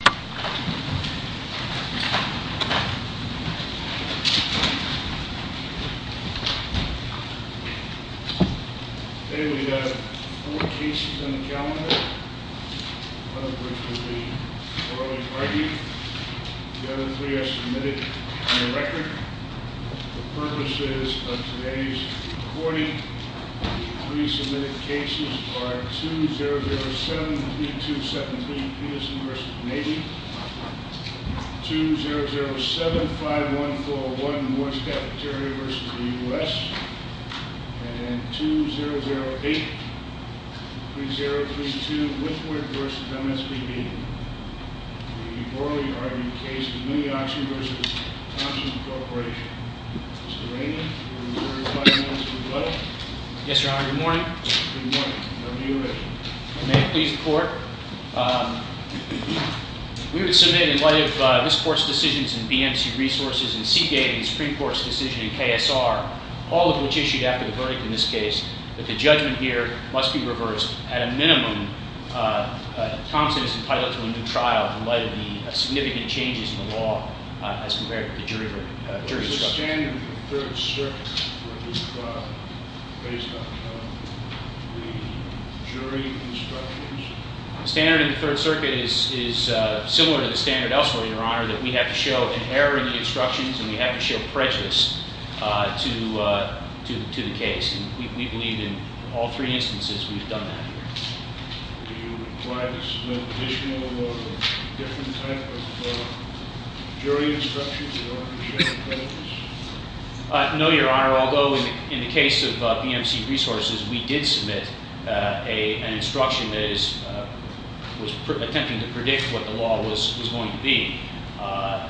Today we have four cases on the calendar, one of which will be early pardoning, the other three are submitted on the record. The purposes of today's recording, the three submitted cases are 2007-3217 Peterson v. Navy, 2007-5141 Moore's Cafeteria v. U.S., and 2008-3032 Withward v. MSBB. The early pardoning case is Muniauction v. Thompson Corporation. Mr. Raymond, will you clarify the minutes of the verdict? Yes, Your Honor, good morning. Good morning. May it please the Court. We would submit in light of this Court's decisions in BMC Resources and CK and the Supreme Court's decision in KSR, all of which issued after the verdict in this case, that the judgment here must be reversed at a minimum. Thompson is entitled to a new trial in light of the significant changes in the law as compared to jury instructions. Is the standard in the Third Circuit for a new trial based on the jury instructions? The standard in the Third Circuit is similar to the standard elsewhere, Your Honor, that we have to show an error in the instructions and we have to show prejudice to the case. We believe in all three instances we've done that here. Do you require to submit additional or different type of jury instructions in order to show prejudice? No, Your Honor, although in the case of BMC Resources, we did submit an instruction that was attempting to predict what the law was going to be,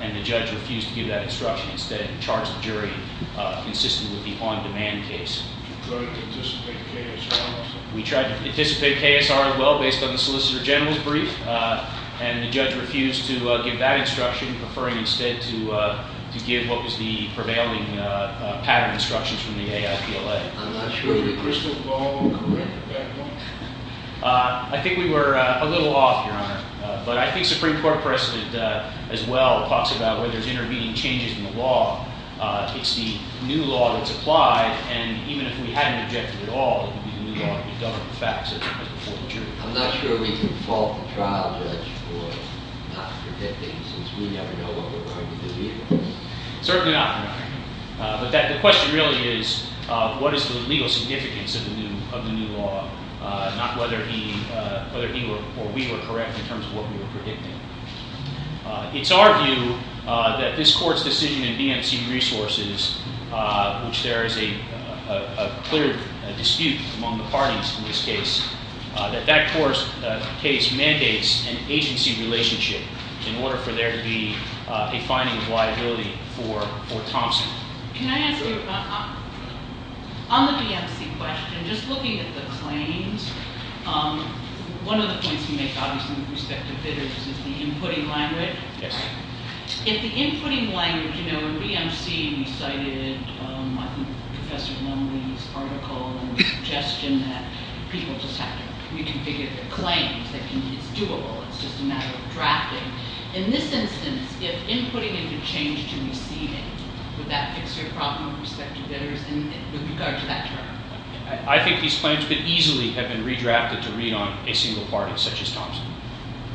and the judge refused to give that instruction. Instead, he charged the jury, insisting it would be an on-demand case. Did you try to anticipate KSR? We tried to anticipate KSR as well, based on the Solicitor General's brief, and the judge refused to give that instruction, preferring instead to give what was the prevailing pattern instructions from the AIPLA. Were the crystal ball correct at that point? I think we were a little off, Your Honor, but I think Supreme Court precedent as well talks about where there's intervening changes in the law. It's the new law that's applied, and even if we hadn't objected at all, it would be the new law that would govern the facts. I'm not sure we can fault the trial judge for not predicting, since we never know what we're going to do either. Certainly not, Your Honor. But the question really is, what is the legal significance of the new law, not whether he or we were correct in terms of what we were predicting. It's our view that this Court's decision in BMC Resources, which there is a clear dispute among the parties in this case, that that case mandates an agency relationship in order for there to be a finding of liability for Thompson. Can I ask you, on the BMC question, just looking at the claims, one of the points you make, obviously, with respect to bidders, is the inputting language. Yes. If the inputting language, you know, in BMC we cited, I think, Professor Lumley's article, the suggestion that people just have to reconfigure their claims, that it's doable, it's just a matter of drafting. In this instance, if inputting is a change to receiving, would that fix your problem with respect to bidders in regard to that term? I think these claims could easily have been redrafted to read on a single party, such as Thompson,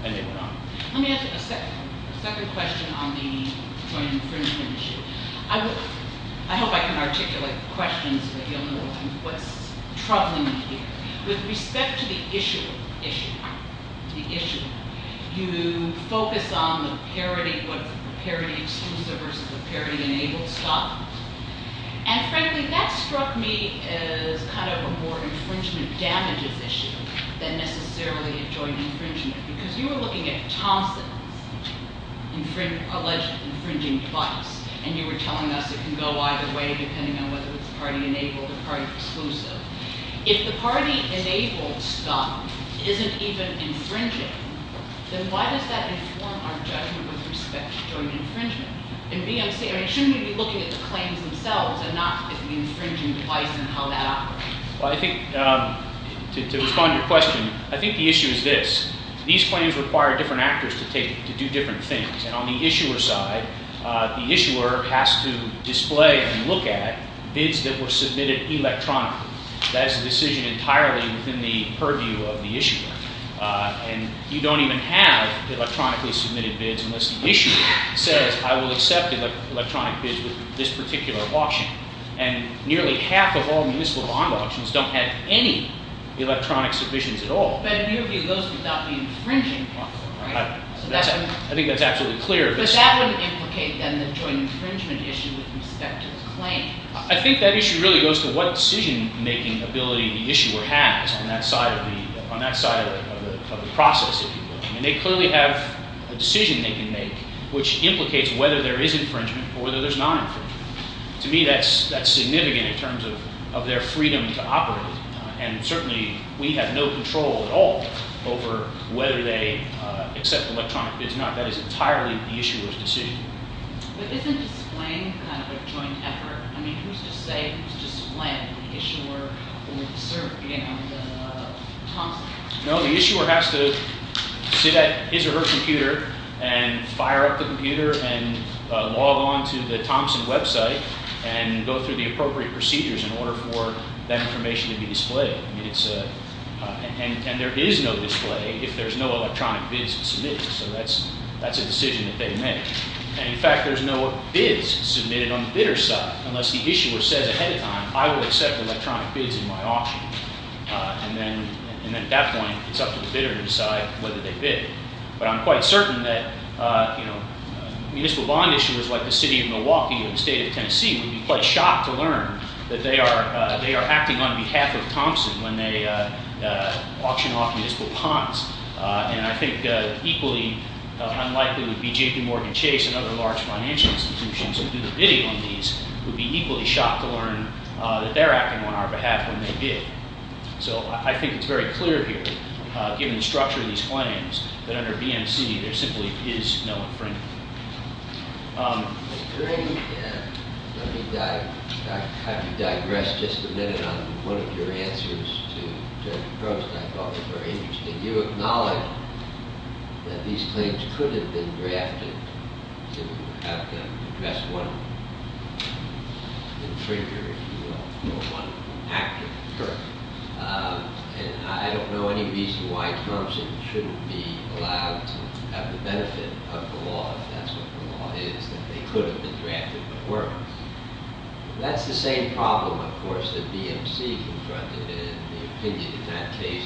and they were not. Let me ask a second question on the joint infringement issue. I hope I can articulate the questions, but you'll know what's troubling me here. With respect to the issue, you focus on the parity, what's the parity exclusive versus the parity enabled stock. And frankly, that struck me as kind of a more infringement damages issue than necessarily a joint infringement, because you were looking at Thompson's alleged infringing device, and you were telling us it can go either way, depending on whether it's party enabled or party exclusive. If the party enabled stock isn't even infringing, then why does that inform our judgment with respect to joint infringement? And shouldn't we be looking at the claims themselves and not at the infringing device and how that operates? Well, I think, to respond to your question, I think the issue is this. These claims require different actors to do different things, and on the issuer side, the issuer has to display and look at bids that were submitted electronically. That is a decision entirely within the purview of the issuer. And you don't even have electronically submitted bids unless the issuer says, I will accept electronic bids with this particular auction. And nearly half of all municipal bond auctions don't have any electronic submissions at all. But in your view, those would not be infringing. I think that's absolutely clear. But that wouldn't implicate, then, the joint infringement issue with respect to the claim. I think that issue really goes to what decision-making ability the issuer has on that side of the process, if you will. I mean, they clearly have a decision they can make, which implicates whether there is infringement or whether there's non-infringement. To me, that's significant in terms of their freedom to operate, and certainly we have no control at all over whether they accept electronic bids or not. That is entirely the issuer's decision. But isn't displaying kind of a joint effort? I mean, who's to say who's to describe the issuer or the Thompson? No, the issuer has to sit at his or her computer and fire up the computer and log on to the Thompson website and go through the appropriate procedures in order for that information to be displayed. And there is no display if there's no electronic bids submitted. So that's a decision that they make. And, in fact, there's no bids submitted on the bidder's side unless the issuer says ahead of time, I will accept electronic bids in my auction. And then at that point, it's up to the bidder to decide whether they bid. But I'm quite certain that municipal bond issuers like the city of Milwaukee or the state of Tennessee would be quite shocked to learn that they are acting on behalf of Thompson when they auction off municipal bonds. And I think equally unlikely would be JPMorgan Chase and other large financial institutions who do the bidding on these would be equally shocked to learn that they're acting on our behalf when they bid. So I think it's very clear here, given the structure of these claims, that under BMC there simply is no infringement. I agree. And let me digress just a minute on one of your answers to Judge Gross. I thought it was very interesting. You acknowledge that these claims could have been drafted if you had to address one infringer, if you will, or one actor. And I don't know any reason why Thompson shouldn't be allowed to have the benefit of the law, if that's what the law is, that they could have been drafted but weren't. That's the same problem, of course, that BMC confronted. And the opinion in that case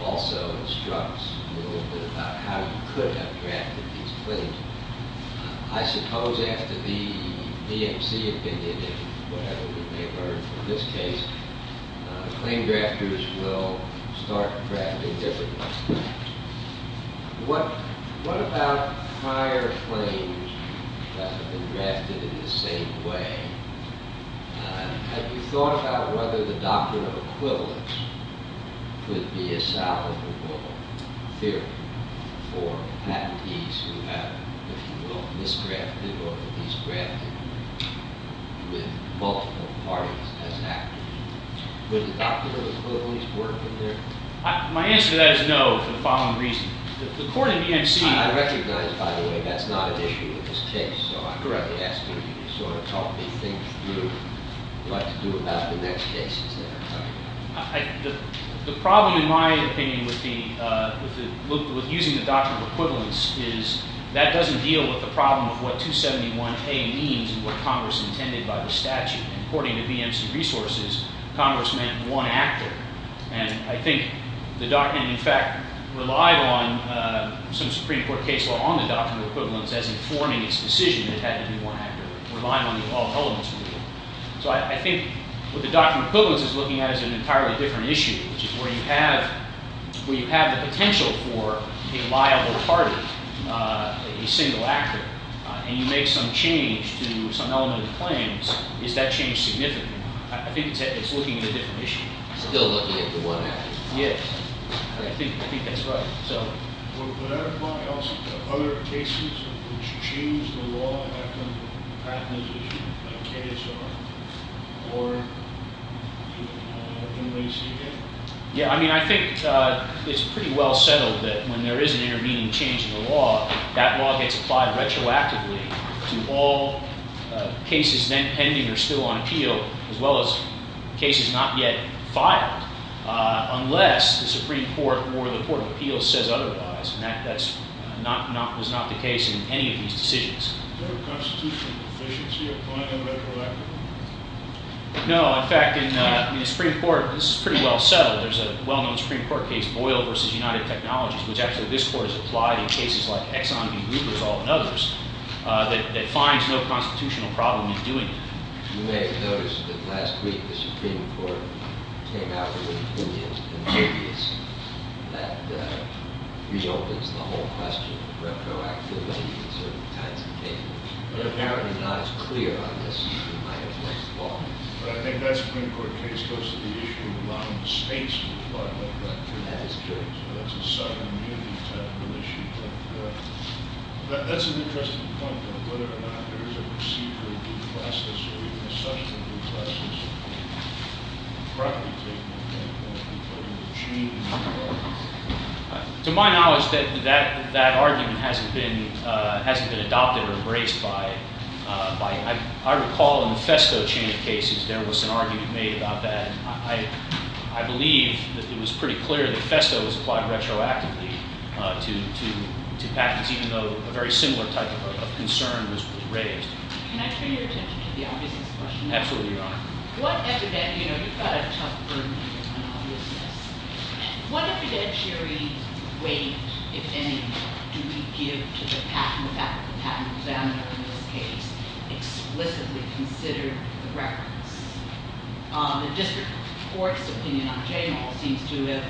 also instructs a little bit about how you could have drafted these claims. I suppose after the BMC opinion and whatever we may learn from this case, claim drafters will start drafting differently. What about prior claims that have been drafted in the same way? Have you thought about whether the doctrine of equivalence could be a solid rule of theory for patentees who have, if you will, misdrafted or at least drafted with multiple parties as actors? Would the doctrine of equivalence work in there? My answer to that is no for the following reason. The court in BMC— I recognize, by the way, that's not an issue in this case. So I'd rather ask you to sort of help me think through what to do about the next cases that are coming. The problem, in my opinion, with using the doctrine of equivalence is that doesn't deal with the problem of what 271A means and what Congress intended by the statute. According to BMC resources, Congress meant one actor. And I think the doctrine, in fact, relied on some Supreme Court case law on the doctrine of equivalence as informing its decision. It had to be one actor. It relied on the all-elements rule. So I think what the doctrine of equivalence is looking at is an entirely different issue, which is where you have the potential for a liable party, a single actor, and you make some change to some element of the claims, is that change significant? I think it's looking at a different issue. Still looking at the one actor. Yes. I think that's right. Would that apply also to other cases which change the law after a patent is issued, like KSR or MBCA? Yeah, I mean, I think it's pretty well settled that when there is an intervening change in the law, that law gets applied retroactively to all cases then pending or still on appeal, as well as cases not yet filed, unless the Supreme Court or the Court of Appeals says otherwise. And that was not the case in any of these decisions. Is there a constitutional deficiency of applying them retroactively? No. In fact, in the Supreme Court, this is pretty well settled. There's a well-known Supreme Court case, Boyle v. United Technologies, which actually this Court has applied in cases like Exxon v. Hoover's Law and others, that finds no constitutional problem in doing it. You may have noticed that last week the Supreme Court came out with an opinion in the media that reopens the whole question of retroactivity in certain kinds of cases. But apparently not as clear on this as you might have liked the law. But I think that Supreme Court case goes to the issue of allowing the states to apply retroactively. That is true. So that's a second duty type of issue. That's an interesting point. Whether or not there is a procedure of due process or even a session of due process, probably taking into account people in the chain of law. To my knowledge, that argument hasn't been adopted or embraced by— I recall in the Festo chain of cases there was an argument made about that. I believe that it was pretty clear that Festo was applied retroactively to patents, even though a very similar type of concern was raised. Can I turn your attention to the obviousness question? Absolutely, Your Honor. What evidentiary weight, if any, do we give to the patent examiner in this case, who has explicitly considered the records? The district court's opinion on J-Mall seems to have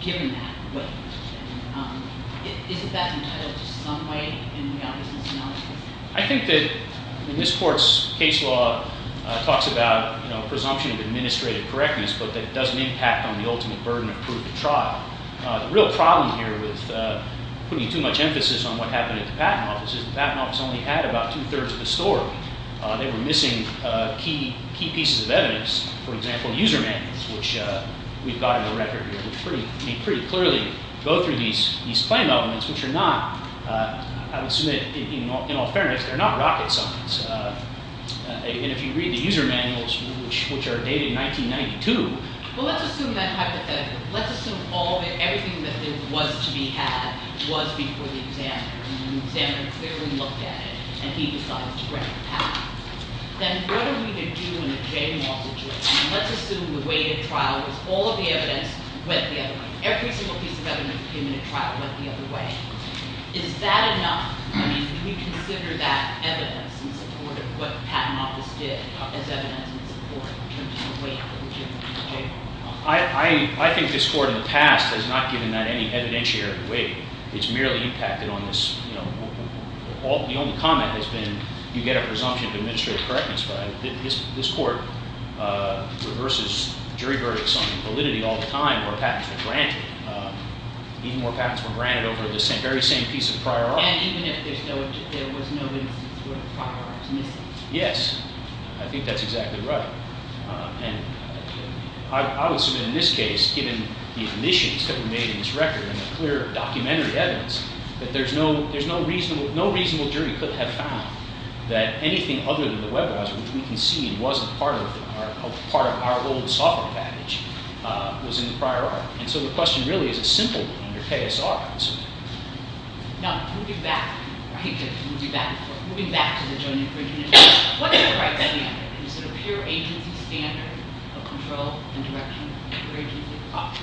given that weight. Isn't that entitled to some weight in the obviousness analysis? I think that in this court's case law, it talks about a presumption of administrative correctness, but that it doesn't impact on the ultimate burden of proof of trial. The real problem here with putting too much emphasis on what happened at the patent office is the patent office only had about two-thirds of the story. They were missing key pieces of evidence, for example, user manuals, which we've got in the record here, which pretty clearly go through these claim elements, which are not—I would assume that in all fairness, they're not rocket science. And if you read the user manuals, which are dated 1992— Well, let's assume that hypothetical. Let's assume everything that there was to be had was before the examiner. And the examiner clearly looked at it, and he decided to break the patent. Then what are we going to do in a J-Mall situation? Let's assume the weight of trial was all of the evidence went the other way. Every single piece of evidence that came in the trial went the other way. Is that enough? I mean, do we consider that evidence in support of what the patent office did as evidence in support in terms of the weight of the legitimate J-Mall? I think this court in the past has not given that any evidentiary weight. It's merely impacted on this—the only comment has been you get a presumption of administrative correctness. But this court reverses jury verdicts on validity all the time where patents were granted. Even more patents were granted over the very same piece of prior art. And even if there was no evidence in support of prior arts missing? Yes. I think that's exactly right. And I would assume in this case, given the omissions that were made in this record and the clear documentary evidence, that there's no reasonable— no reasonable jury could have found that anything other than the web browser, which we concede wasn't part of our old software package, was in the prior art. And so the question really is a simple one under KSR. Now, moving back—I hate to move you back and forth. Moving back to the Joint Inquisition, what is the right standard? Is it a pure agency standard of control and direction?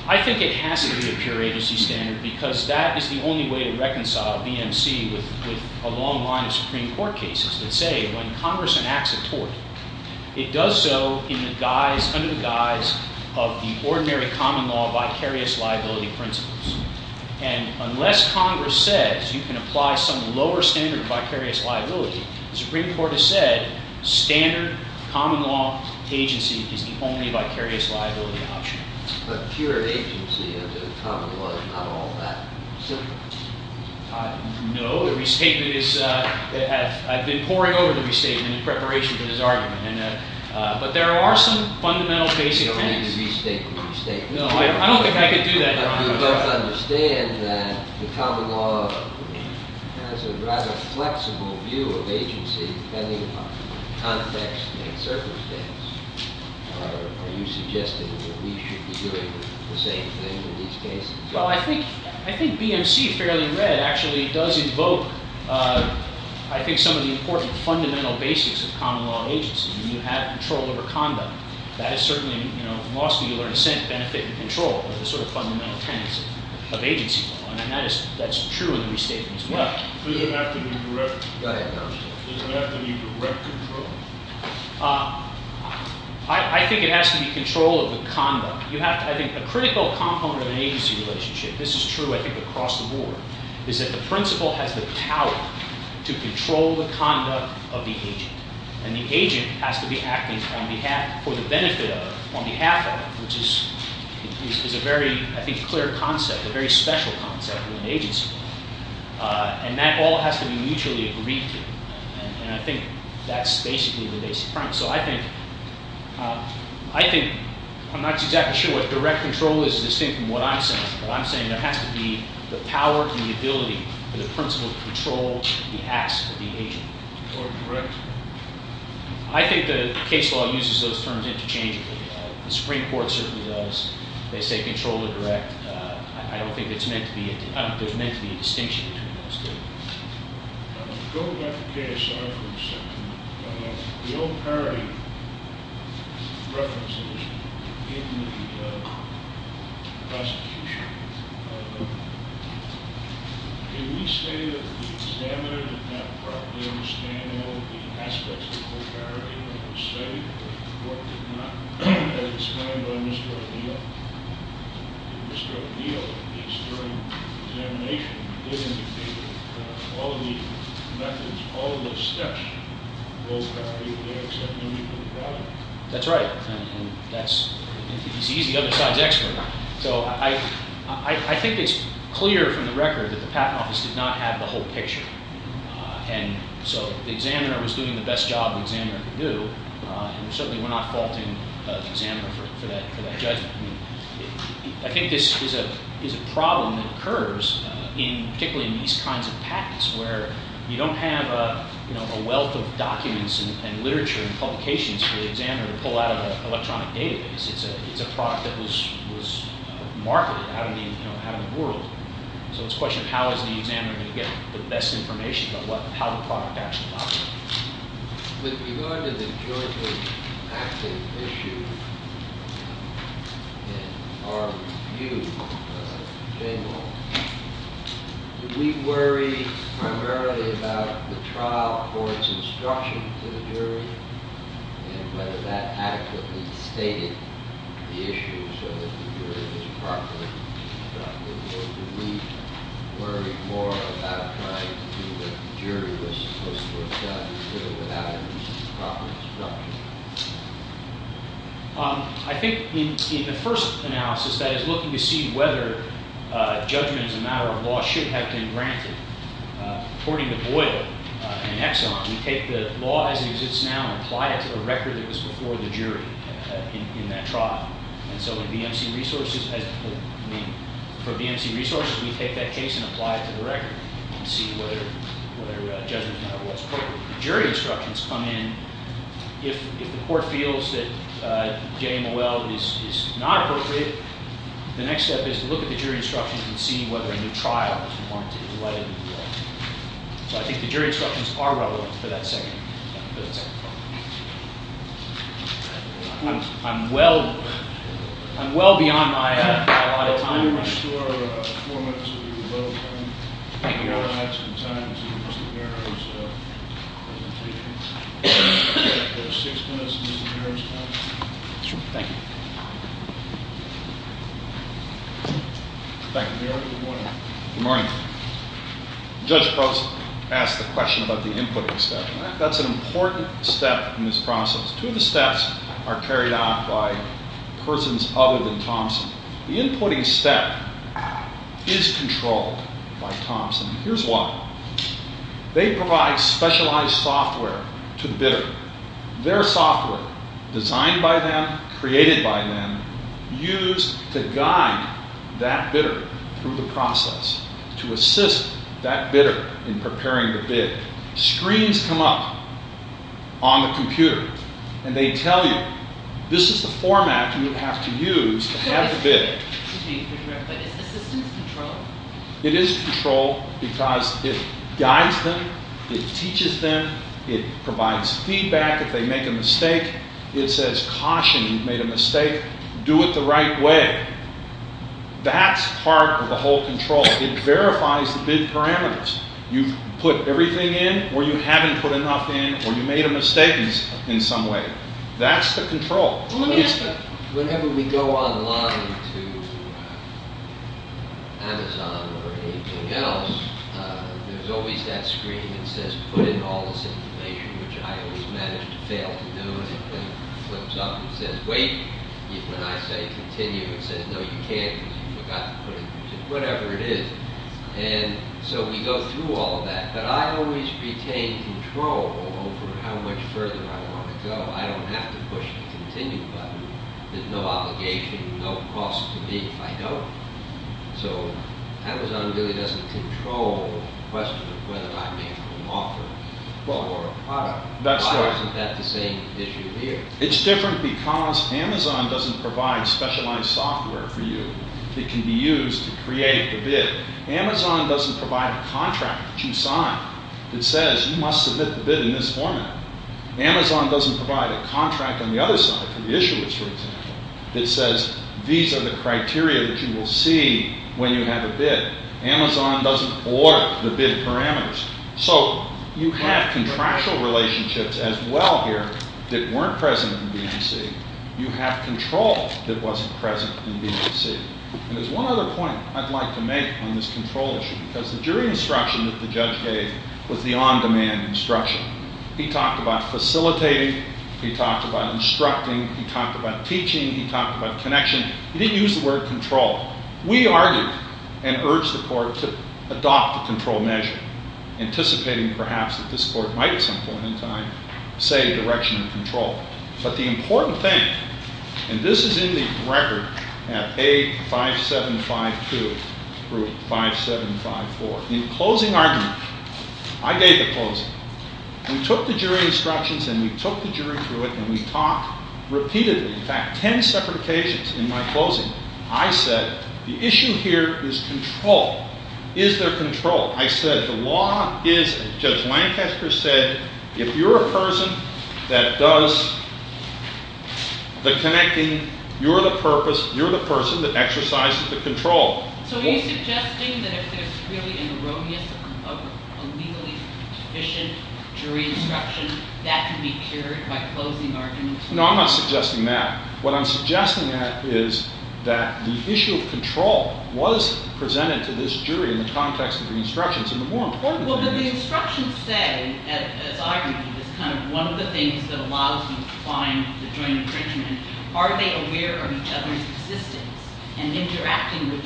I think it has to be a pure agency standard because that is the only way to reconcile BMC with a long line of Supreme Court cases that say when Congress enacts a tort, it does so in the guise—under the guise of the ordinary common law vicarious liability principles. And unless Congress says you can apply some lower standard of vicarious liability, the Supreme Court has said standard common law agency is the only vicarious liability option. But pure agency under common law is not all that simple. No. The restatement is—I've been poring over the restatement in preparation for this argument. But there are some fundamental basic things. You don't need to restate the restatement. No, I don't think I could do that, Your Honor. You both understand that the common law has a rather flexible view of agency depending upon context and circumstance. Are you suggesting that we should be doing the same thing in these cases? Well, I think BMC, fairly in red, actually does invoke, I think, some of the important fundamental basics of common law agency. You have control over conduct. That is certainly—in law school you learn assent, benefit, and control are the sort of fundamental tenets of agency law. And that's true in the restatement as well. Does it have to be direct control? I think it has to be control of the conduct. I think a critical component of an agency relationship—this is true, I think, across the board— is that the principal has the power to control the conduct of the agent. And the agent has to be acting for the benefit of, on behalf of, which is a very, I think, clear concept, a very special concept within agency law. And that all has to be mutually agreed to. And I think that's basically the basic premise. So I think—I'm not exactly sure what direct control is, distinct from what I'm saying. What I'm saying is there has to be the power and the ability for the principal to control the acts of the agent. Or direct? I think the case law uses those terms interchangeably. The Supreme Court certainly does. They say control or direct. I don't think it's meant to be—there's meant to be a distinction between those two. Going back to KSI for a second, the old parody references in the prosecution. Can we say that the examiner did not properly understand all of the aspects of the old parody when it was studied? Or did not understand Mr. O'Neill? Mr. O'Neill, at least, during examination, did indicate that all of the methods, all of the steps, both parody of the acts of the agent and the product. That's right. And that's—he's the other side's expert. So I think it's clear from the record that the patent office did not have the whole picture. And so the examiner was doing the best job the examiner could do. And certainly we're not faulting the examiner for that judgment. I think this is a problem that occurs particularly in these kinds of patents where you don't have a wealth of documents and literature and publications for the examiner to pull out of an electronic database. It's a product that was marketed out of the world. So it's a question of how is the examiner going to get the best information, but how the product actually operates. With regard to the jointly active issue, in our view, Jamal, did we worry primarily about the trial for its instruction to the jury and whether that adequately stated the issue so that the jury was properly instructed? Or did we worry more about trying to do what the jury was supposed to have done even without any proper instruction? I think in the first analysis, that is looking to see whether judgment as a matter of law should have been granted, according to Boyle and Exxon, we take the law as it exists now and apply it to the record that was before the jury in that trial. And so for BMC Resources, we take that case and apply it to the record and see whether judgment as a matter of law is appropriate. The jury instructions come in. If the court feels that JMOL is not appropriate, the next step is to look at the jury instructions and see whether a new trial is warranted in light of the new law. So I think the jury instructions are relevant for that second part. I'm well beyond my allotted time. We will restore four minutes of your available time. Thank you, Your Honor. We will add some time to Mr. Barron's presentation. We have six minutes of Mr. Barron's time. Thank you. Good morning. Good morning. Judge Probst asked the question about the inputting step. That's an important step in this process. Two of the steps are carried out by persons other than Thompson. The inputting step is controlled by Thompson. Here's why. They provide specialized software to the bidder. Their software, designed by them, created by them, used to guide that bidder through the process, to assist that bidder in preparing the bid. Screens come up on the computer, and they tell you this is the format you have to use to have the bid. It is controlled because it guides them, it teaches them, it provides feedback if they make a mistake. It says caution if you've made a mistake. Do it the right way. That's part of the whole control. It verifies the bid parameters. You've put everything in, or you haven't put enough in, or you made a mistake in some way. That's the control. Whenever we go online to Amazon or anything else, there's always that screen that says put in all this information, which I always manage to fail to do. It flips up and says wait. When I say continue, it says no, you can't, because you forgot to put in just whatever it is. We go through all of that, but I always retain control over how much further I want to go. I don't have to push the continue button. There's no obligation, no cost to me if I don't. Amazon really doesn't control the question of whether I make an offer for a product. Why isn't that the same issue here? It's different because Amazon doesn't provide specialized software for you that can be used to create the bid. Amazon doesn't provide a contract that you sign that says you must submit the bid in this format. Amazon doesn't provide a contract on the other side for the issuers, for example, that says these are the criteria that you will see when you have a bid. Amazon doesn't order the bid parameters. So you have contractual relationships as well here that weren't present in BMC. You have control that wasn't present in BMC. There's one other point I'd like to make on this control issue because the jury instruction that the judge gave was the on-demand instruction. He talked about facilitating. He talked about instructing. He talked about teaching. He talked about connection. He didn't use the word control. We argued and urged the court to adopt the control measure, anticipating, perhaps, that this court might at some point in time say a direction of control. But the important thing, and this is in the record at A5752 through 5754, the closing argument, I gave the closing. We took the jury instructions and we took the jury through it and we talked repeatedly. In fact, 10 separate occasions in my closing, I said the issue here is control. Is there control? I said the law isn't. Judge Lancaster said if you're a person that does the connecting, you're the person that exercises the control. So are you suggesting that if there's really an erroneous, illegally deficient jury instruction, that can be cured by closing arguments? No, I'm not suggesting that. What I'm suggesting is that the issue of control was presented to this jury in the context of the instructions. And the more important thing is- Well, but the instructions say, as I read it, is kind of one of the things that allows you to find the joint infringement. Are they aware of each other's existence and interacting with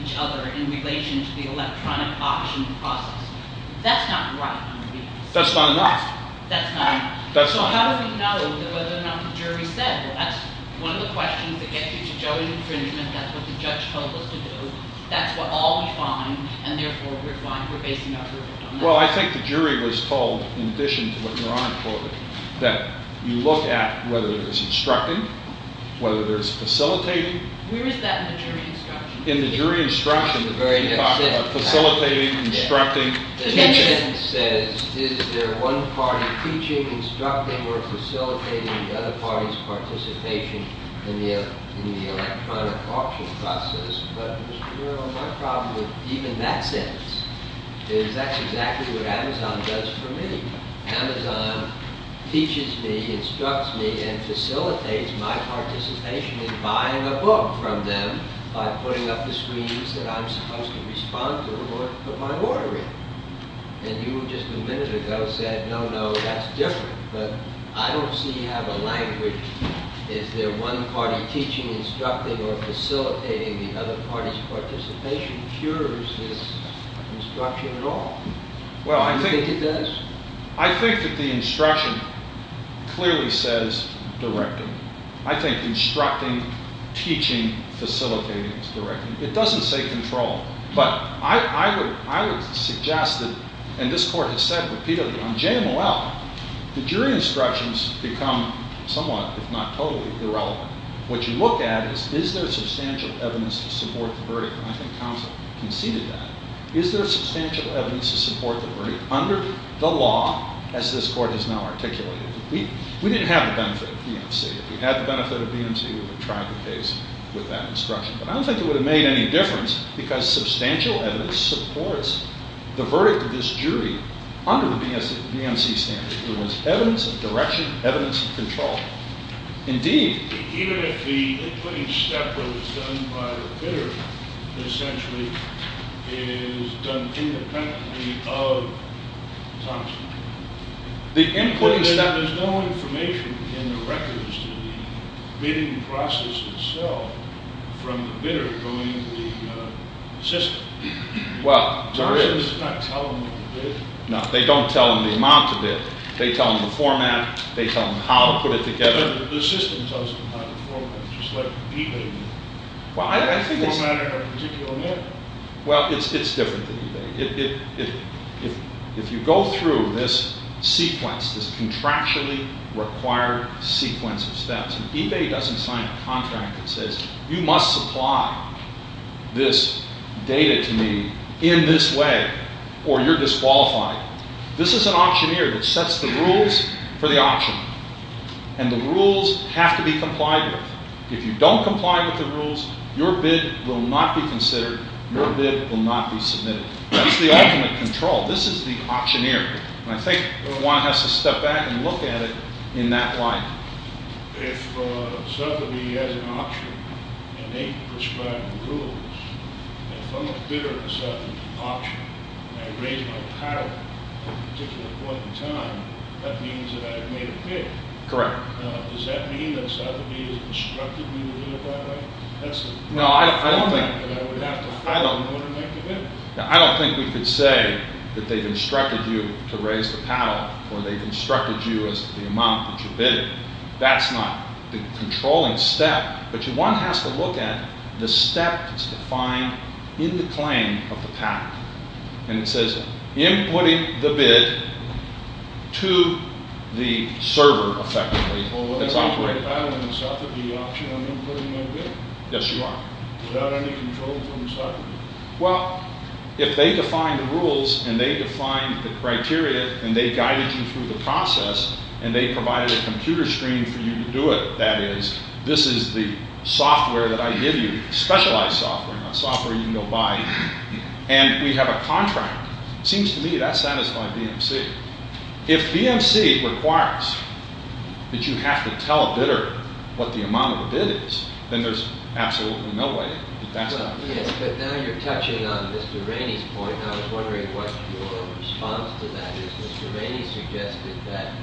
each other in relation to the electronic auctioning process? That's not right. That's not enough. That's not enough. That's not enough. So whether or not the jury said, well, that's one of the questions that gets you to joint infringement. That's what the judge told us to do. That's what all we find. And therefore, we're fine. We're basing our group on that. Well, I think the jury was told, in addition to what Your Honor quoted, that you look at whether there's instructing, whether there's facilitating. Where is that in the jury instruction? In the jury instruction, you talk about facilitating, instructing, teaching. And it says, is there one party teaching, instructing, or facilitating the other party's participation in the electronic auction process? But, Mr. Merrill, my problem with even that sentence is that's exactly what Amazon does for me. Amazon teaches me, instructs me, and facilitates my participation in buying a book from them by putting up the screens that I'm supposed to respond to or put my order in. And you just a minute ago said, no, no, that's different. But I don't see how the language, is there one party teaching, instructing, or facilitating the other party's participation, cures this instruction at all. Do you think it does? I think that the instruction clearly says directing. I think instructing, teaching, facilitating is directing. It doesn't say control. But I would suggest that, and this court has said repeatedly, on JMOL, the jury instructions become somewhat, if not totally, irrelevant. What you look at is, is there substantial evidence to support the verdict? And I think counsel conceded that. Is there substantial evidence to support the verdict under the law, as this court has now articulated? We didn't have the benefit of BMC. If we had the benefit of BMC, we would have tried the case with that instruction. But I don't think it would have made any difference, because substantial evidence supports the verdict of this jury under the BMC standard. There was evidence of direction, evidence of control. Indeed. Even if the inputting step was done by the bidder, it essentially is done independently of Thompson. The inputting step. But there's no information in the records to the bidding process itself from the bidder going to the system. Well, there is. Thompson does not tell them what to bid. No, they don't tell them the amount to bid. They tell them the format. They tell them how to put it together. But the system tells them how to format it, just like eBay did. Well, I think it's— Formatting a particular bid. Well, it's different than eBay. If you go through this sequence, this contractually required sequence of steps, and eBay doesn't sign a contract that says, you must supply this data to me in this way or you're disqualified. This is an auctioneer that sets the rules for the auction, and the rules have to be complied with. If you don't comply with the rules, your bid will not be considered. Your bid will not be submitted. This is the ultimate control. This is the auctioneer. And I think one has to step back and look at it in that light. If Sotheby has an auction and they prescribe the rules, if I'm a bidder at a certain auction and I raise my paddle at a particular point in time, that means that I've made a bid. Correct. Does that mean that Sotheby has instructed me to do it that way? No, I don't think we could say that they've instructed you to raise the paddle or they've instructed you as to the amount that you bidded. That's not the controlling step, but one has to look at the step that's defined in the claim of the paddle, and it says inputting the bid to the server, effectively, that's operating. If I'm in a Sotheby auction, I'm inputting my bid? Yes, you are. Without any control from Sotheby? Well, if they define the rules and they define the criteria and they guided you through the process and they provided a computer screen for you to do it, that is, this is the software that I give you, specialized software, not software you can go buy, and we have a contract, it seems to me that satisfies BMC. If BMC requires that you have to tell a bidder what the amount of a bid is, then there's absolutely no way that that's happening. Yes, but now you're touching on Mr. Rainey's point, and I was wondering what your response to that is. Mr. Rainey suggested that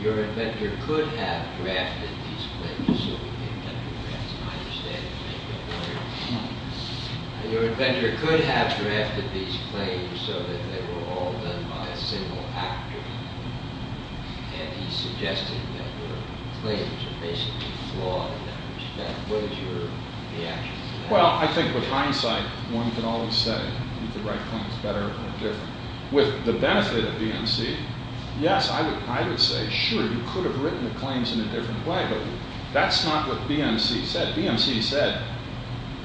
your inventor could have drafted these claims so we didn't have to ask my understanding, thank you. Your inventor could have drafted these claims so that they were all done by a single actor, and he suggested that your claims were basically flawed in that respect. What is your reaction to that? Well, I think with hindsight, one can always say you could write claims better or different. With the benefit of BMC, yes, I would say, sure, you could have written the claims in a different way, but that's not what BMC said. BMC said,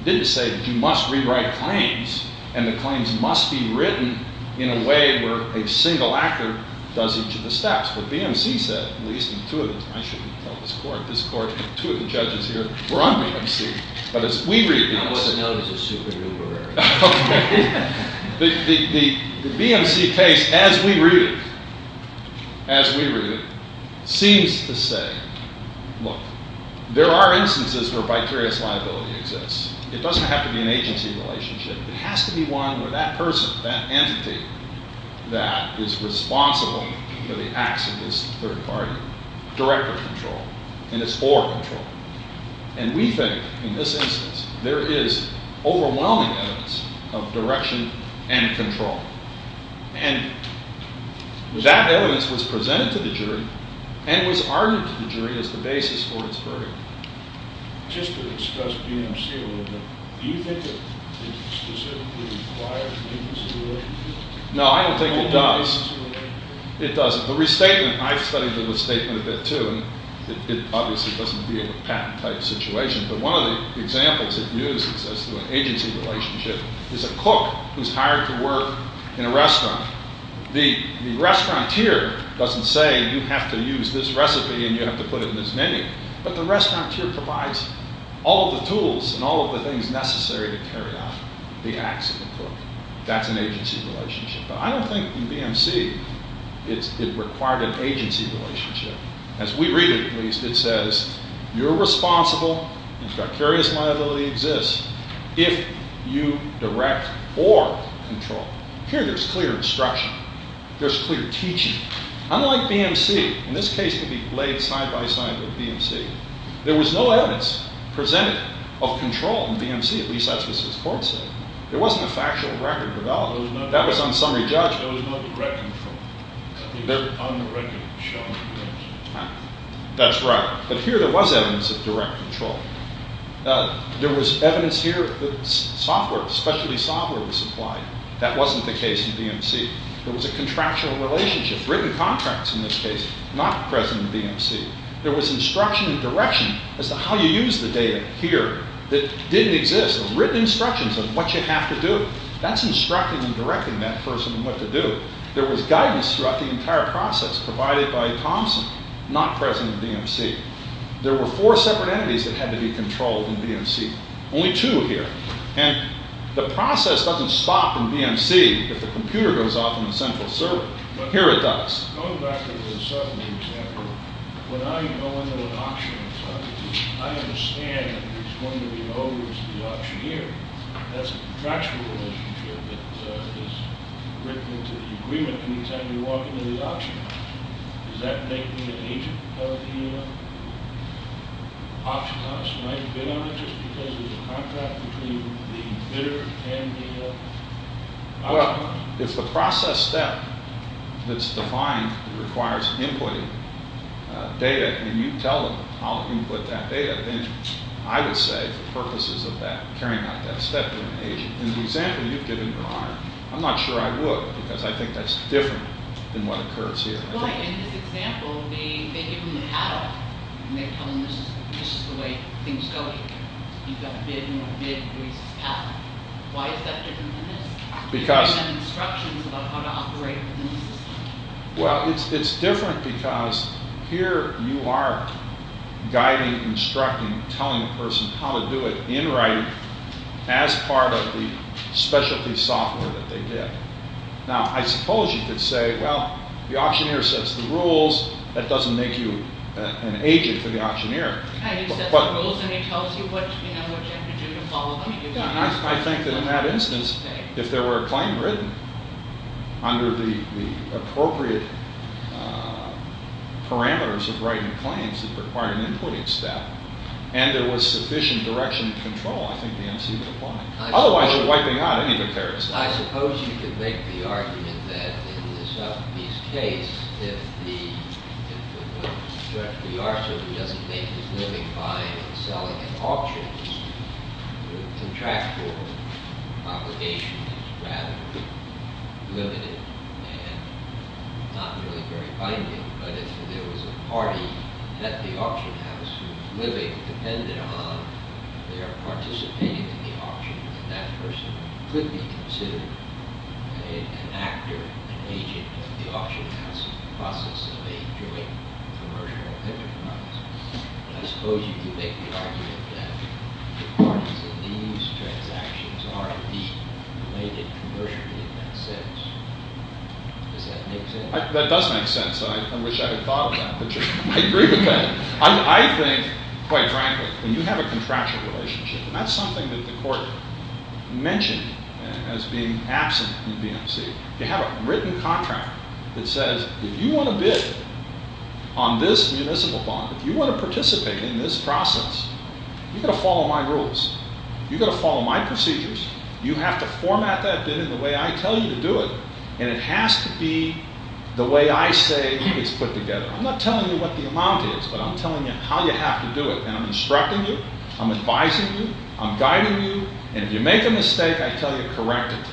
didn't say that you must rewrite claims, and the claims must be written in a way where a single actor does each of the steps. But BMC said, at least in two of the, I shouldn't tell this court, this court, two of the judges here were on BMC, but as we read this. I wasn't known as a super-duper. Okay. The BMC case, as we read it, as we read it, seems to say, look, there are instances where vicarious liability exists. It doesn't have to be an agency relationship. It has to be one where that person, that entity that is responsible for the acts of this third party directly control, and it's for control. And we think, in this instance, there is overwhelming evidence of direction and control. And that evidence was presented to the jury and was argued to the jury as the basis for its verdict. Just to discuss BMC a little bit, do you think it specifically requires an agency relationship? No, I don't think it does. It doesn't. The restatement, I've studied the restatement a bit, too, and it obviously doesn't deal with patent-type situations, but one of the examples it uses as to an agency relationship is a cook who's hired to work in a restaurant. The restauranteur doesn't say you have to use this recipe and you have to put it in this menu, but the restauranteur provides all of the tools and all of the things necessary to carry out the acts of the cook. That's an agency relationship. But I don't think in BMC it required an agency relationship. As we read it, at least, it says you're responsible, and vicarious liability exists if you direct or control. Here there's clear instruction. There's clear teaching. Unlike BMC, and this case could be laid side-by-side with BMC, there was no evidence presented of control in BMC. At least that's what this court said. There wasn't a factual record developed. That was on summary judgment. There was no direct control. On the record, it showed direct control. That's right. But here there was evidence of direct control. There was evidence here that software, specialty software was supplied. That wasn't the case in BMC. There was a contractual relationship, written contracts in this case, not present in BMC. There was instruction and direction as to how you use the data here that didn't exist, written instructions of what you have to do. That's instructing and directing that person on what to do. But there was guidance throughout the entire process provided by Thompson, not present in BMC. There were four separate entities that had to be controlled in BMC, only two here. And the process doesn't stop in BMC if the computer goes off in the central server. Here it does. Well, if the process step that's defined requires inputting data and you tell them how to input that data, then I would say the purpose is of carrying out that step with an agent. In the example you've given, Your Honor, I'm not sure I would because I think that's different than what occurs here. In this example, they give them the catalog and they tell them this is the way things go here. You've got bid and you want to bid. Why is that different than this? Because- You've given them instructions about how to operate within the system. Well, it's different because here you are guiding, instructing, telling the person how to do it in writing as part of the specialty software that they did. Now, I suppose you could say, well, the auctioneer sets the rules. That doesn't make you an agent for the auctioneer. And he sets the rules and he tells you what you have to do to follow. I think that in that instance, if there were a claim written under the appropriate parameters of writing claims that required an inputting step and there was sufficient direction and control, I think the MC would apply. Otherwise, you're wiping out any of the parameters. I suppose you could make the argument that in the Sotheby's case, if the director of the auction doesn't make his living by selling an auction, the contractual obligation is rather limited and not really very binding. But if there was a party at the auction house who's living depended on their participating in the auction, that person could be considered an actor, an agent of the auction house in the process of a joint commercial enterprise. I suppose you could make the argument that the parties in these transactions are indeed related commercially in that sense. Does that make sense? I wish I had thought of that, but I agree with that. I think, quite frankly, when you have a contractual relationship, and that's something that the court mentioned as being absent in BMC, you have a written contract that says if you want to bid on this municipal bond, if you want to participate in this process, you've got to follow my rules. You've got to follow my procedures. You have to format that bid in the way I tell you to do it. And it has to be the way I say it's put together. I'm not telling you what the amount is, but I'm telling you how you have to do it. And I'm instructing you. I'm advising you. I'm guiding you. And if you make a mistake, I tell you to correct it.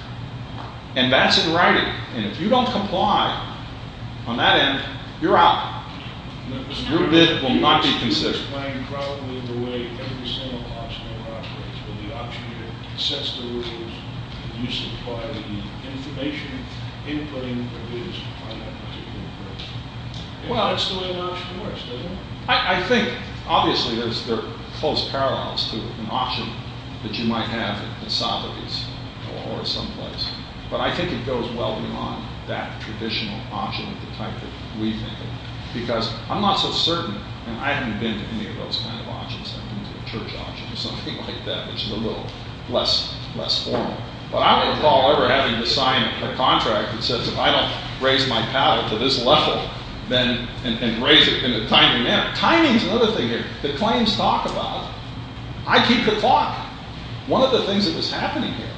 And that's in writing. And if you don't comply on that end, you're out. Your bid will not be considered. Well, that's the way it works for us, doesn't it? I think, obviously, there's close parallels to an option that you might have in the Saudis or someplace. But I think it goes well beyond that traditional option of the type that we make. Because I'm not so certain, and I haven't been to any of those kind of options. I've been to a church option or something like that, which is a little less formal. But I don't recall ever having to sign a contract that says, if I don't raise my paddle to this level and raise it in a timely manner. Timing is another thing here that claims talk about. I keep the clock. One of the things that was happening here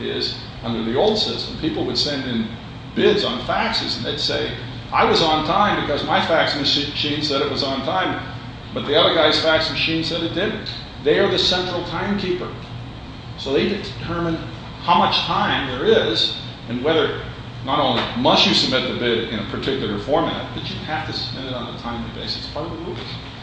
is under the old system, people would send in bids on faxes, and they'd say, I was on time because my fax machine said it was on time. But the other guy's fax machine said it didn't. They are the central timekeeper. So they determine how much time there is, and whether not only must you submit the bid in a particular format, but you have to submit it on a timely basis. It's part of the rules.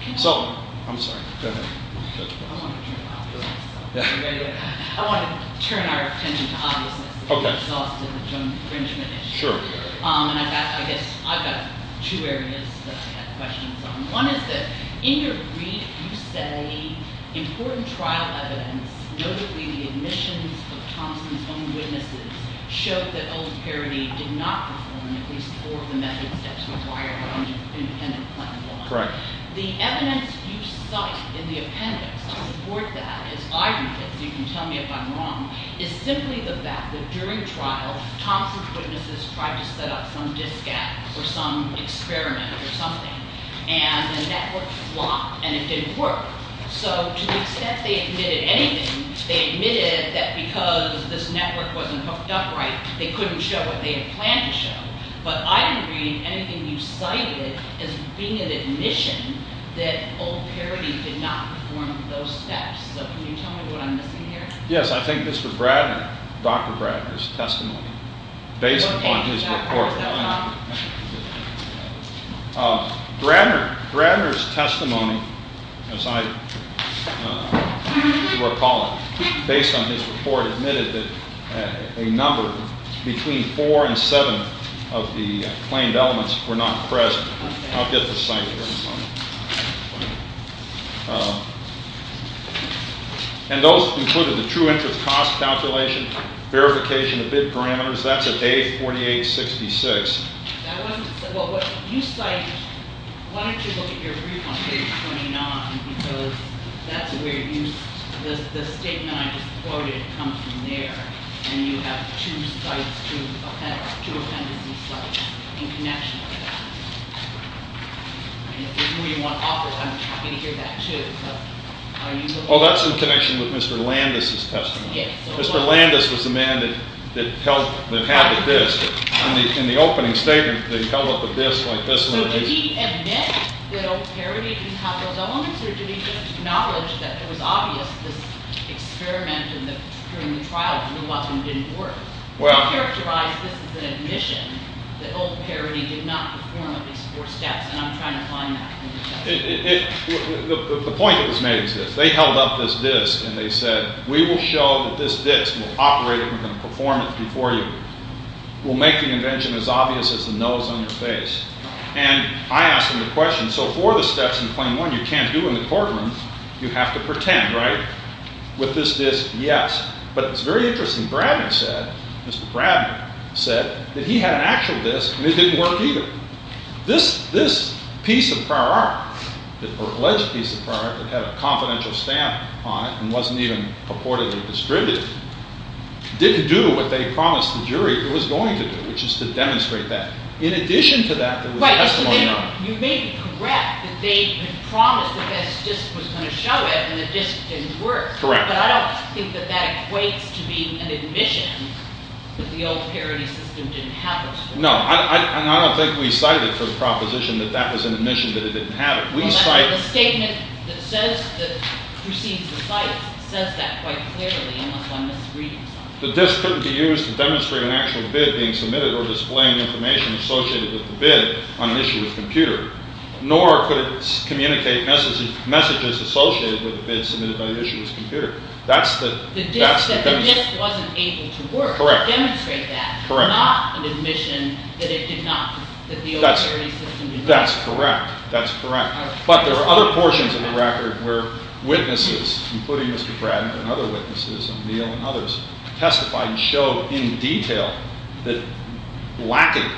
I'm sorry. I want to turn to obviousness. I want to turn our attention to obviousness. It's an exhaustive and joint infringement issue. Sure. And I guess I've got two areas that I have questions on. One is that in your brief you say important trial evidence, notably the admissions of Thompson's own witnesses, showed that old parody did not perform at least four of the methods that's required under independent plan one. Correct. However, the evidence you cite in the appendix to support that, as I read it so you can tell me if I'm wrong, is simply the fact that during trial, Thompson's witnesses tried to set up some disk app or some experiment or something, and the network flopped, and it didn't work. So to the extent they admitted anything, they admitted that because this network wasn't hooked up right, they couldn't show what they had planned to show. But I didn't read anything you cited as being an admission that old parody did not perform those steps. So can you tell me what I'm missing here? Yes, I think Mr. Bradner, Dr. Bradner's testimony, based upon his report. Bradner's testimony, as I recall it, based on his report, admitted that a number between four and seven of the claimed elements were not present. I'll get the site here in a moment. And those included the true interest cost calculation, verification of bid parameters, that's at page 4866. That wasn't, well, what you cite, why don't you look at your brief on page 29, because that's where you, the statement I just quoted comes from there, and you have two sites, two appendices, in connection with that. If you want to offer, I'm happy to hear that too. Oh, that's in connection with Mr. Landis' testimony. Mr. Landis was the man that held, that had the disk. In the opening statement, they held up the disk like this. So did he admit that Old Parody did have those elements, or did he just acknowledge that it was obvious this experiment and that during the trial it wasn't, didn't work? He characterized this as an admission that Old Parody did not perform at least four steps, and I'm trying to find that. The point that was made was this. They held up this disk, and they said, we will show that this disk will operate and we're going to perform it before you. We'll make the invention as obvious as the nose on your face. And I asked him the question, so four of the steps in claim one you can't do in the courtroom. You have to pretend, right? With this disk, yes. But it's very interesting, Mr. Bradman said that he had an actual disk, and it didn't work either. This piece of prior art, the alleged piece of prior art that had a confidential stamp on it and wasn't even purportedly distributed, didn't do what they promised the jury it was going to do, which is to demonstrate that. In addition to that, there was testimony on it. Right, so you may be correct that they had promised that this disk was going to show it, and the disk didn't work. Correct. But I don't think that that equates to being an admission that the Old Parody system didn't have those four steps. No, and I don't think we cited for the proposition that that was an admission that it didn't have it. We cite... Well, the statement that proceeds the site says that quite clearly, unless I'm misreading something. The disk couldn't be used to demonstrate an actual bid being submitted or displaying information associated with the bid on an issuer's computer, nor could it communicate messages associated with the bid submitted by the issuer's computer. That's the... That the disk wasn't able to work. Correct. Demonstrate that. Correct. Not an admission that it did not... That's correct. That's correct. including Mr. Bradman and other witnesses and Neil and others, testified and showed in detail that lacking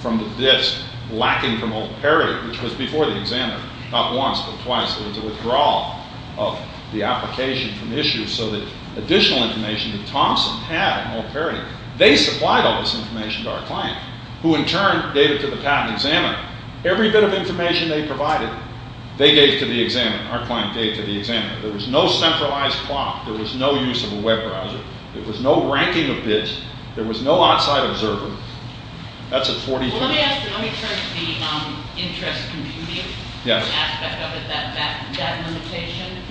from the disk, lacking from Old Parody, which was before the examiner, not once but twice, there was a withdrawal of the application from the issue so that additional information that Thompson had on Old Parody, they supplied all this information to our client, who in turn gave it to the patent examiner. Every bit of information they provided, they gave to the examiner. Our client gave to the examiner. There was no centralized clock. There was no use of a web browser. There was no ranking of bids. There was no outside observer. That's a 43... Well, let me ask you, let me turn to the interest computing aspect of it, that limitation.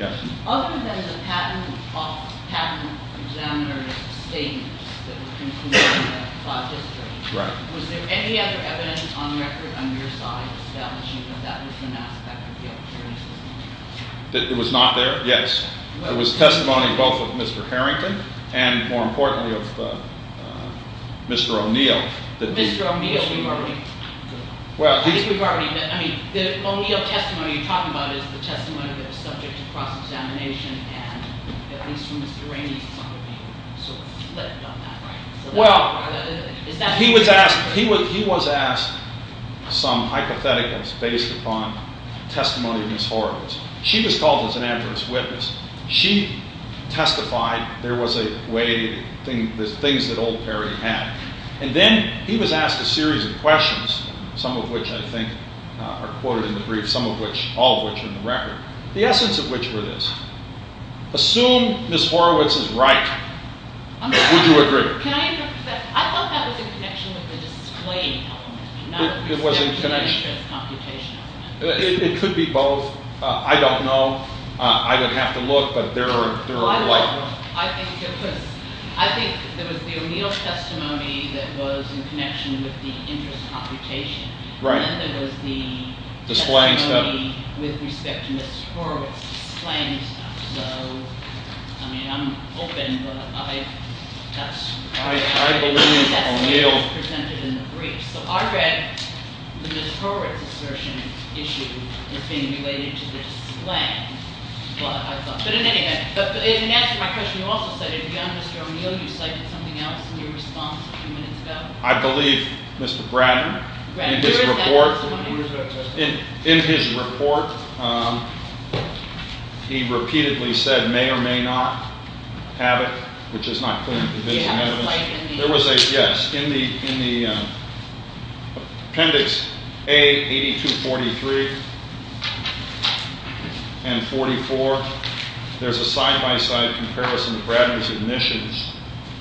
Other than the patent examiner's statements that were concluded in the file history, was there any other evidence on record on your side establishing that that was an aspect of the occurrence? That it was not there? Yes. There was testimony both of Mr. Harrington and, more importantly, of Mr. O'Neill. Mr. O'Neill, we've already... Well, he's... I mean, the O'Neill testimony you're talking about is the testimony that was subject to cross-examination and, at least from Mr. Rainey's point of view, sort of flipped on that, right? Well, he was asked some hypotheticals based upon testimony of Ms. Horowitz. She was called as an adverse witness. She testified there was a way... the things that old Perry had. And then he was asked a series of questions, some of which, I think, are quoted in the brief, some of which... all of which are in the record, the essence of which were this. Assume Ms. Horowitz is right, or would you agree? Can I interrupt you for a second? I thought that was in connection with the display element, not with respect to the interest computation element. It could be both. I don't know. I would have to look, but there are a lot of them. I think it was... I think there was the O'Neill testimony that was in connection with the interest computation. Right. And then there was the... Displaying stuff. ...testimony with respect to Ms. Horowitz. Displaying stuff. So, I mean, I'm open, but I... That's... I believe O'Neill... That's what was presented in the brief. So I read the Ms. Horowitz assertion issue as being related to this land. But, I thought... But in any event, in answer to my question, you also said if you understood O'Neill, you cited something else in your response a few minutes ago. I believe Mr. Bratton, in his report... Where is that testimony? In his report, he repeatedly said, may or may not have it, which is not clearly provisional evidence. You have a spike in the... There was a... yes. In the appendix A-82-43 and 44, there's a side-by-side comparison of Bratton's admissions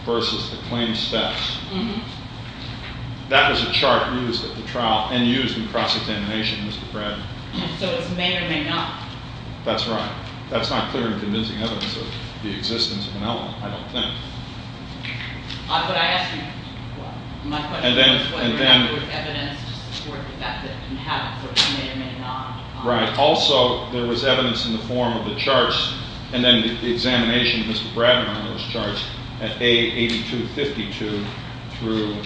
versus the claims stats. Mm-hmm. That was a chart used at the trial and used in cross-examination, Mr. Bratton. So it's may or may not. That's right. That's not clear and convincing evidence of the existence of an element, I don't think. But I ask you... My question is whether there was evidence to support the fact that it can have it, whether it's may or may not. Right. Also, there was evidence in the form of the charts and then the examination of Mr. Bratton on those charts at A-82-52 through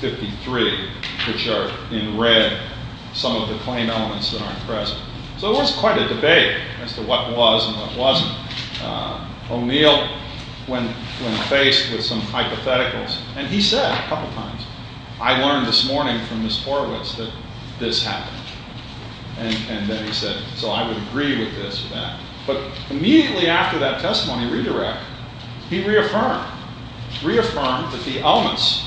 53, which are, in red, some of the claim elements that aren't present. So there was quite a debate as to what was and what wasn't. O'Neill, when faced with some hypotheticals, and he said a couple times, I learned this morning from Miss Horowitz that this happened. And then he said, so I would agree with this or that. But immediately after that testimony redirect, he reaffirmed, reaffirmed that the elements,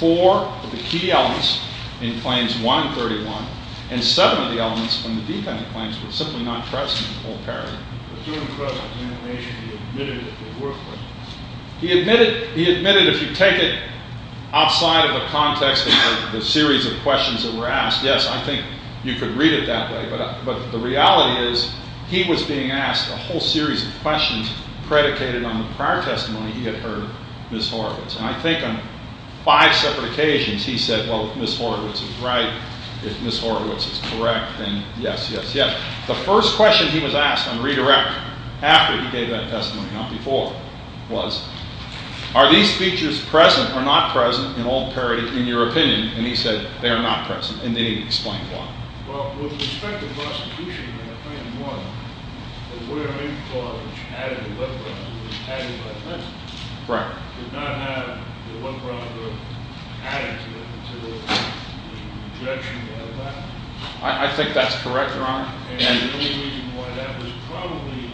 four of the key elements in claims 131 and seven of the elements from the defendant claims were simply not present in the whole paragraph. But during the presentation, he admitted that they were present. He admitted, if you take it outside of the context of the series of questions that were asked, yes, I think you could read it that way. But the reality is he was being asked a whole series of questions predicated on the prior testimony he had heard Miss Horowitz. And I think on five separate occasions, he said, well, if Miss Horowitz was right, if Miss Horowitz is correct, then yes, yes, yes. The first question he was asked on redirect, after he gave that testimony, not before, was, are these features present or not present in all the parodies in your opinion? And he said, they are not present. And then he explained why. Well, with respect to prosecution, I think one, the wearing clause added the lip-rod, it was added by the message. Right. It did not have the lip-rod added to it until there was a rejection of that. I think that's correct, Your Honor. And the only reason why that was probably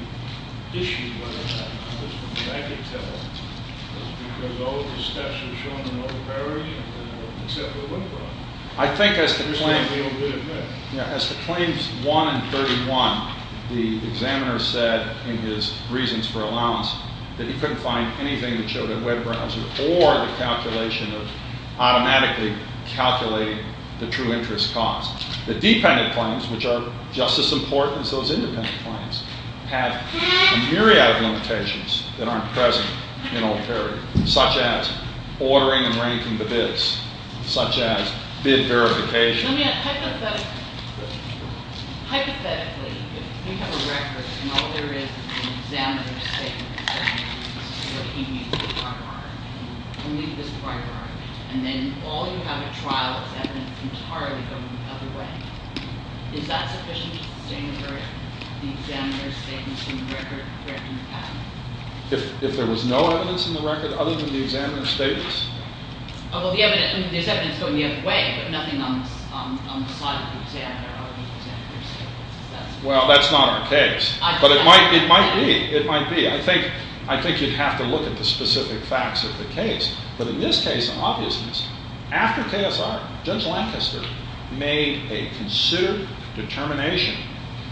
issued by the judge, at least from what I could tell, is because all of the steps are shown in all the parodies except the lip-rod. I think as the claims 1 and 31, the examiner said in his reasons for allowance that he couldn't find anything that showed a web browser or the calculation of automatically calculating the true interest cost. The dependent claims, which are just as important as those independent claims, have a myriad of limitations that aren't present in all parodies, such as ordering and ranking the bids, such as bid verification. If there was no evidence in the record There's evidence going the other way, but nothing on the side of the examiner or the examiner's statements. Well, that's not our case. But it might be. It might be. I think you'd have to look at the specific facts of the case. But in this case, on obviousness, after KSR, Judge Lancaster made a considered determination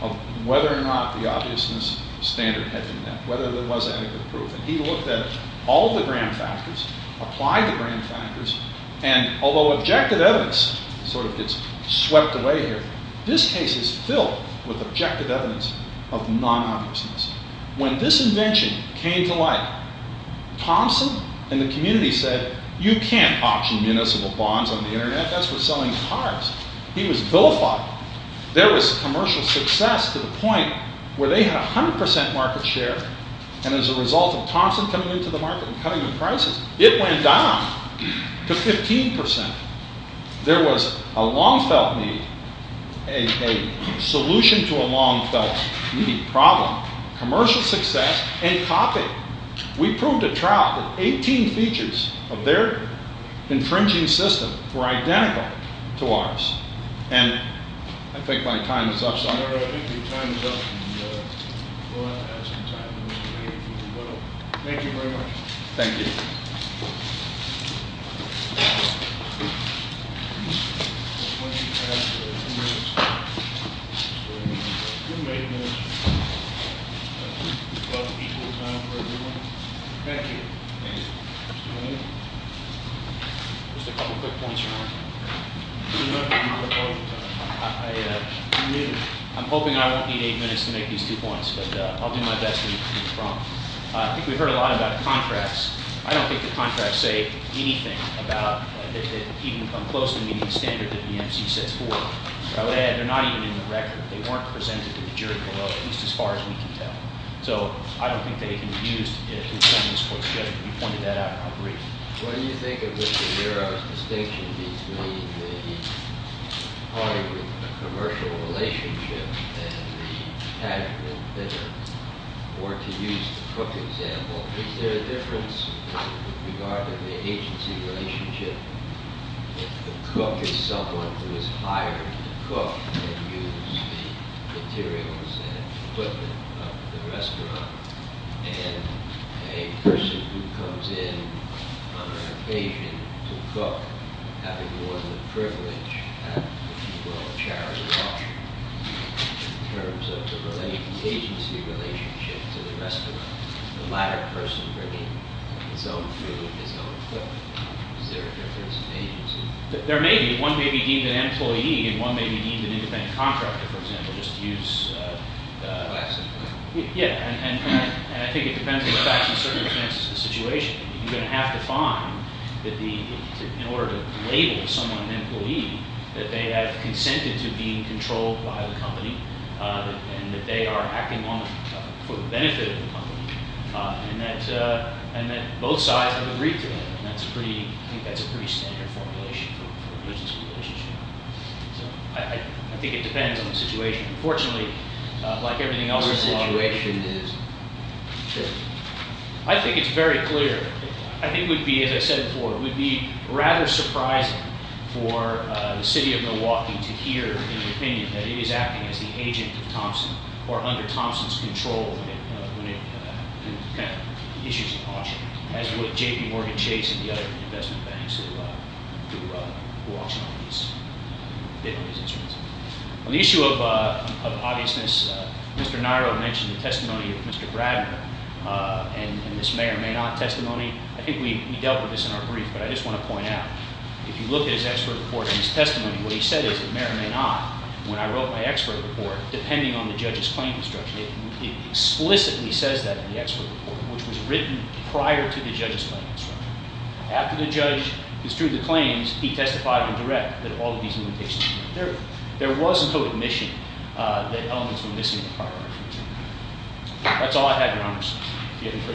of whether or not the obviousness standard had been met, whether there was adequate proof. And he looked at all the grand factors, applied the grand factors. And although objective evidence sort of gets swept away here, this case is filled with objective evidence of non-obviousness. When this invention came to light, Thompson and the community said, you can't auction municipal bonds on the internet. That's for selling cars. He was vilified. There was commercial success to the point where they had 100% market share. And as a result of Thompson coming into the market and cutting the prices, it went down to 15%. There was a long felt need, a solution to a long felt need, problem, commercial success, and copy. We proved at trial that 18 features of their infringing system were identical to ours. And I think my time is up. Sorry. I think your time is up. And we'll have to have some time for Mr. Mayhew to do a little. Thank you very much. Thank you. I want you to have a few minutes. Just a few minutes. About equal time for everyone. Thank you. Mr. Mayhew. Just a couple quick points, Your Honor. Your Honor, I'm hoping I won't need eight minutes to make these two points. But I'll do my best to be prompt. I think we've heard a lot about contracts. I don't think the contracts say anything about that they even come close to meeting the standard that the MC set forth. I would add, they're not even in the record. They weren't presented to the jury below, at least as far as we can tell. So I don't think they can be used to defend this court's judgment. We pointed that out in our brief. What do you think of Mr. Yarrow's distinction between the party with a commercial relationship and the casual dinner? Or to use the cook example, is there a difference in regard to the agency relationship if the cook is someone who is hired to cook and use the materials and equipment of the restaurant and a person who comes in on an occasion to cook having won the privilege at, if you will, a charity auction in terms of the agency relationship to the restaurant? The latter person bringing his own food, his own cook. Is there a difference in agency? There may be. One may be deemed an employee and one may be deemed an independent contractor, for example, just to use Yeah. And I think it depends on the facts and circumstances of the situation. You're going to have to find that in order to label someone an employee, that they have consented to being controlled by the company and that they are acting for the benefit of the company and that both sides have agreed to that. And I think that's a pretty standard formulation for a business relationship. So I think it depends on the situation. Unfortunately, like everything else in the law... What the situation is. Sure. I think it's very clear. I think it would be, as I said before, it would be rather surprising for the city of Milwaukee to hear, in their opinion, that it is acting as the agent of Thompson or under Thompson's control when it kind of issues an auction, as would JPMorgan Chase and the other investment banks who auction on these instruments. On the issue of obviousness, Mr. Niro mentioned the testimony of Mr. Bradman and this may or may not testimony. I think we dealt with this in our brief, but I just want to point out, if you look at his expert report and his testimony, what he said is that may or may not, when I wrote my expert report, depending on the judge's claim construction, it explicitly says that in the expert report, which was written prior to the judge's claim construction. After the judge construed the claims, he testified in direct that all of these limitations and there was no admission that elements were missing in the prior argument. That's all I have, Your Honors. Do you have any further questions? All rise.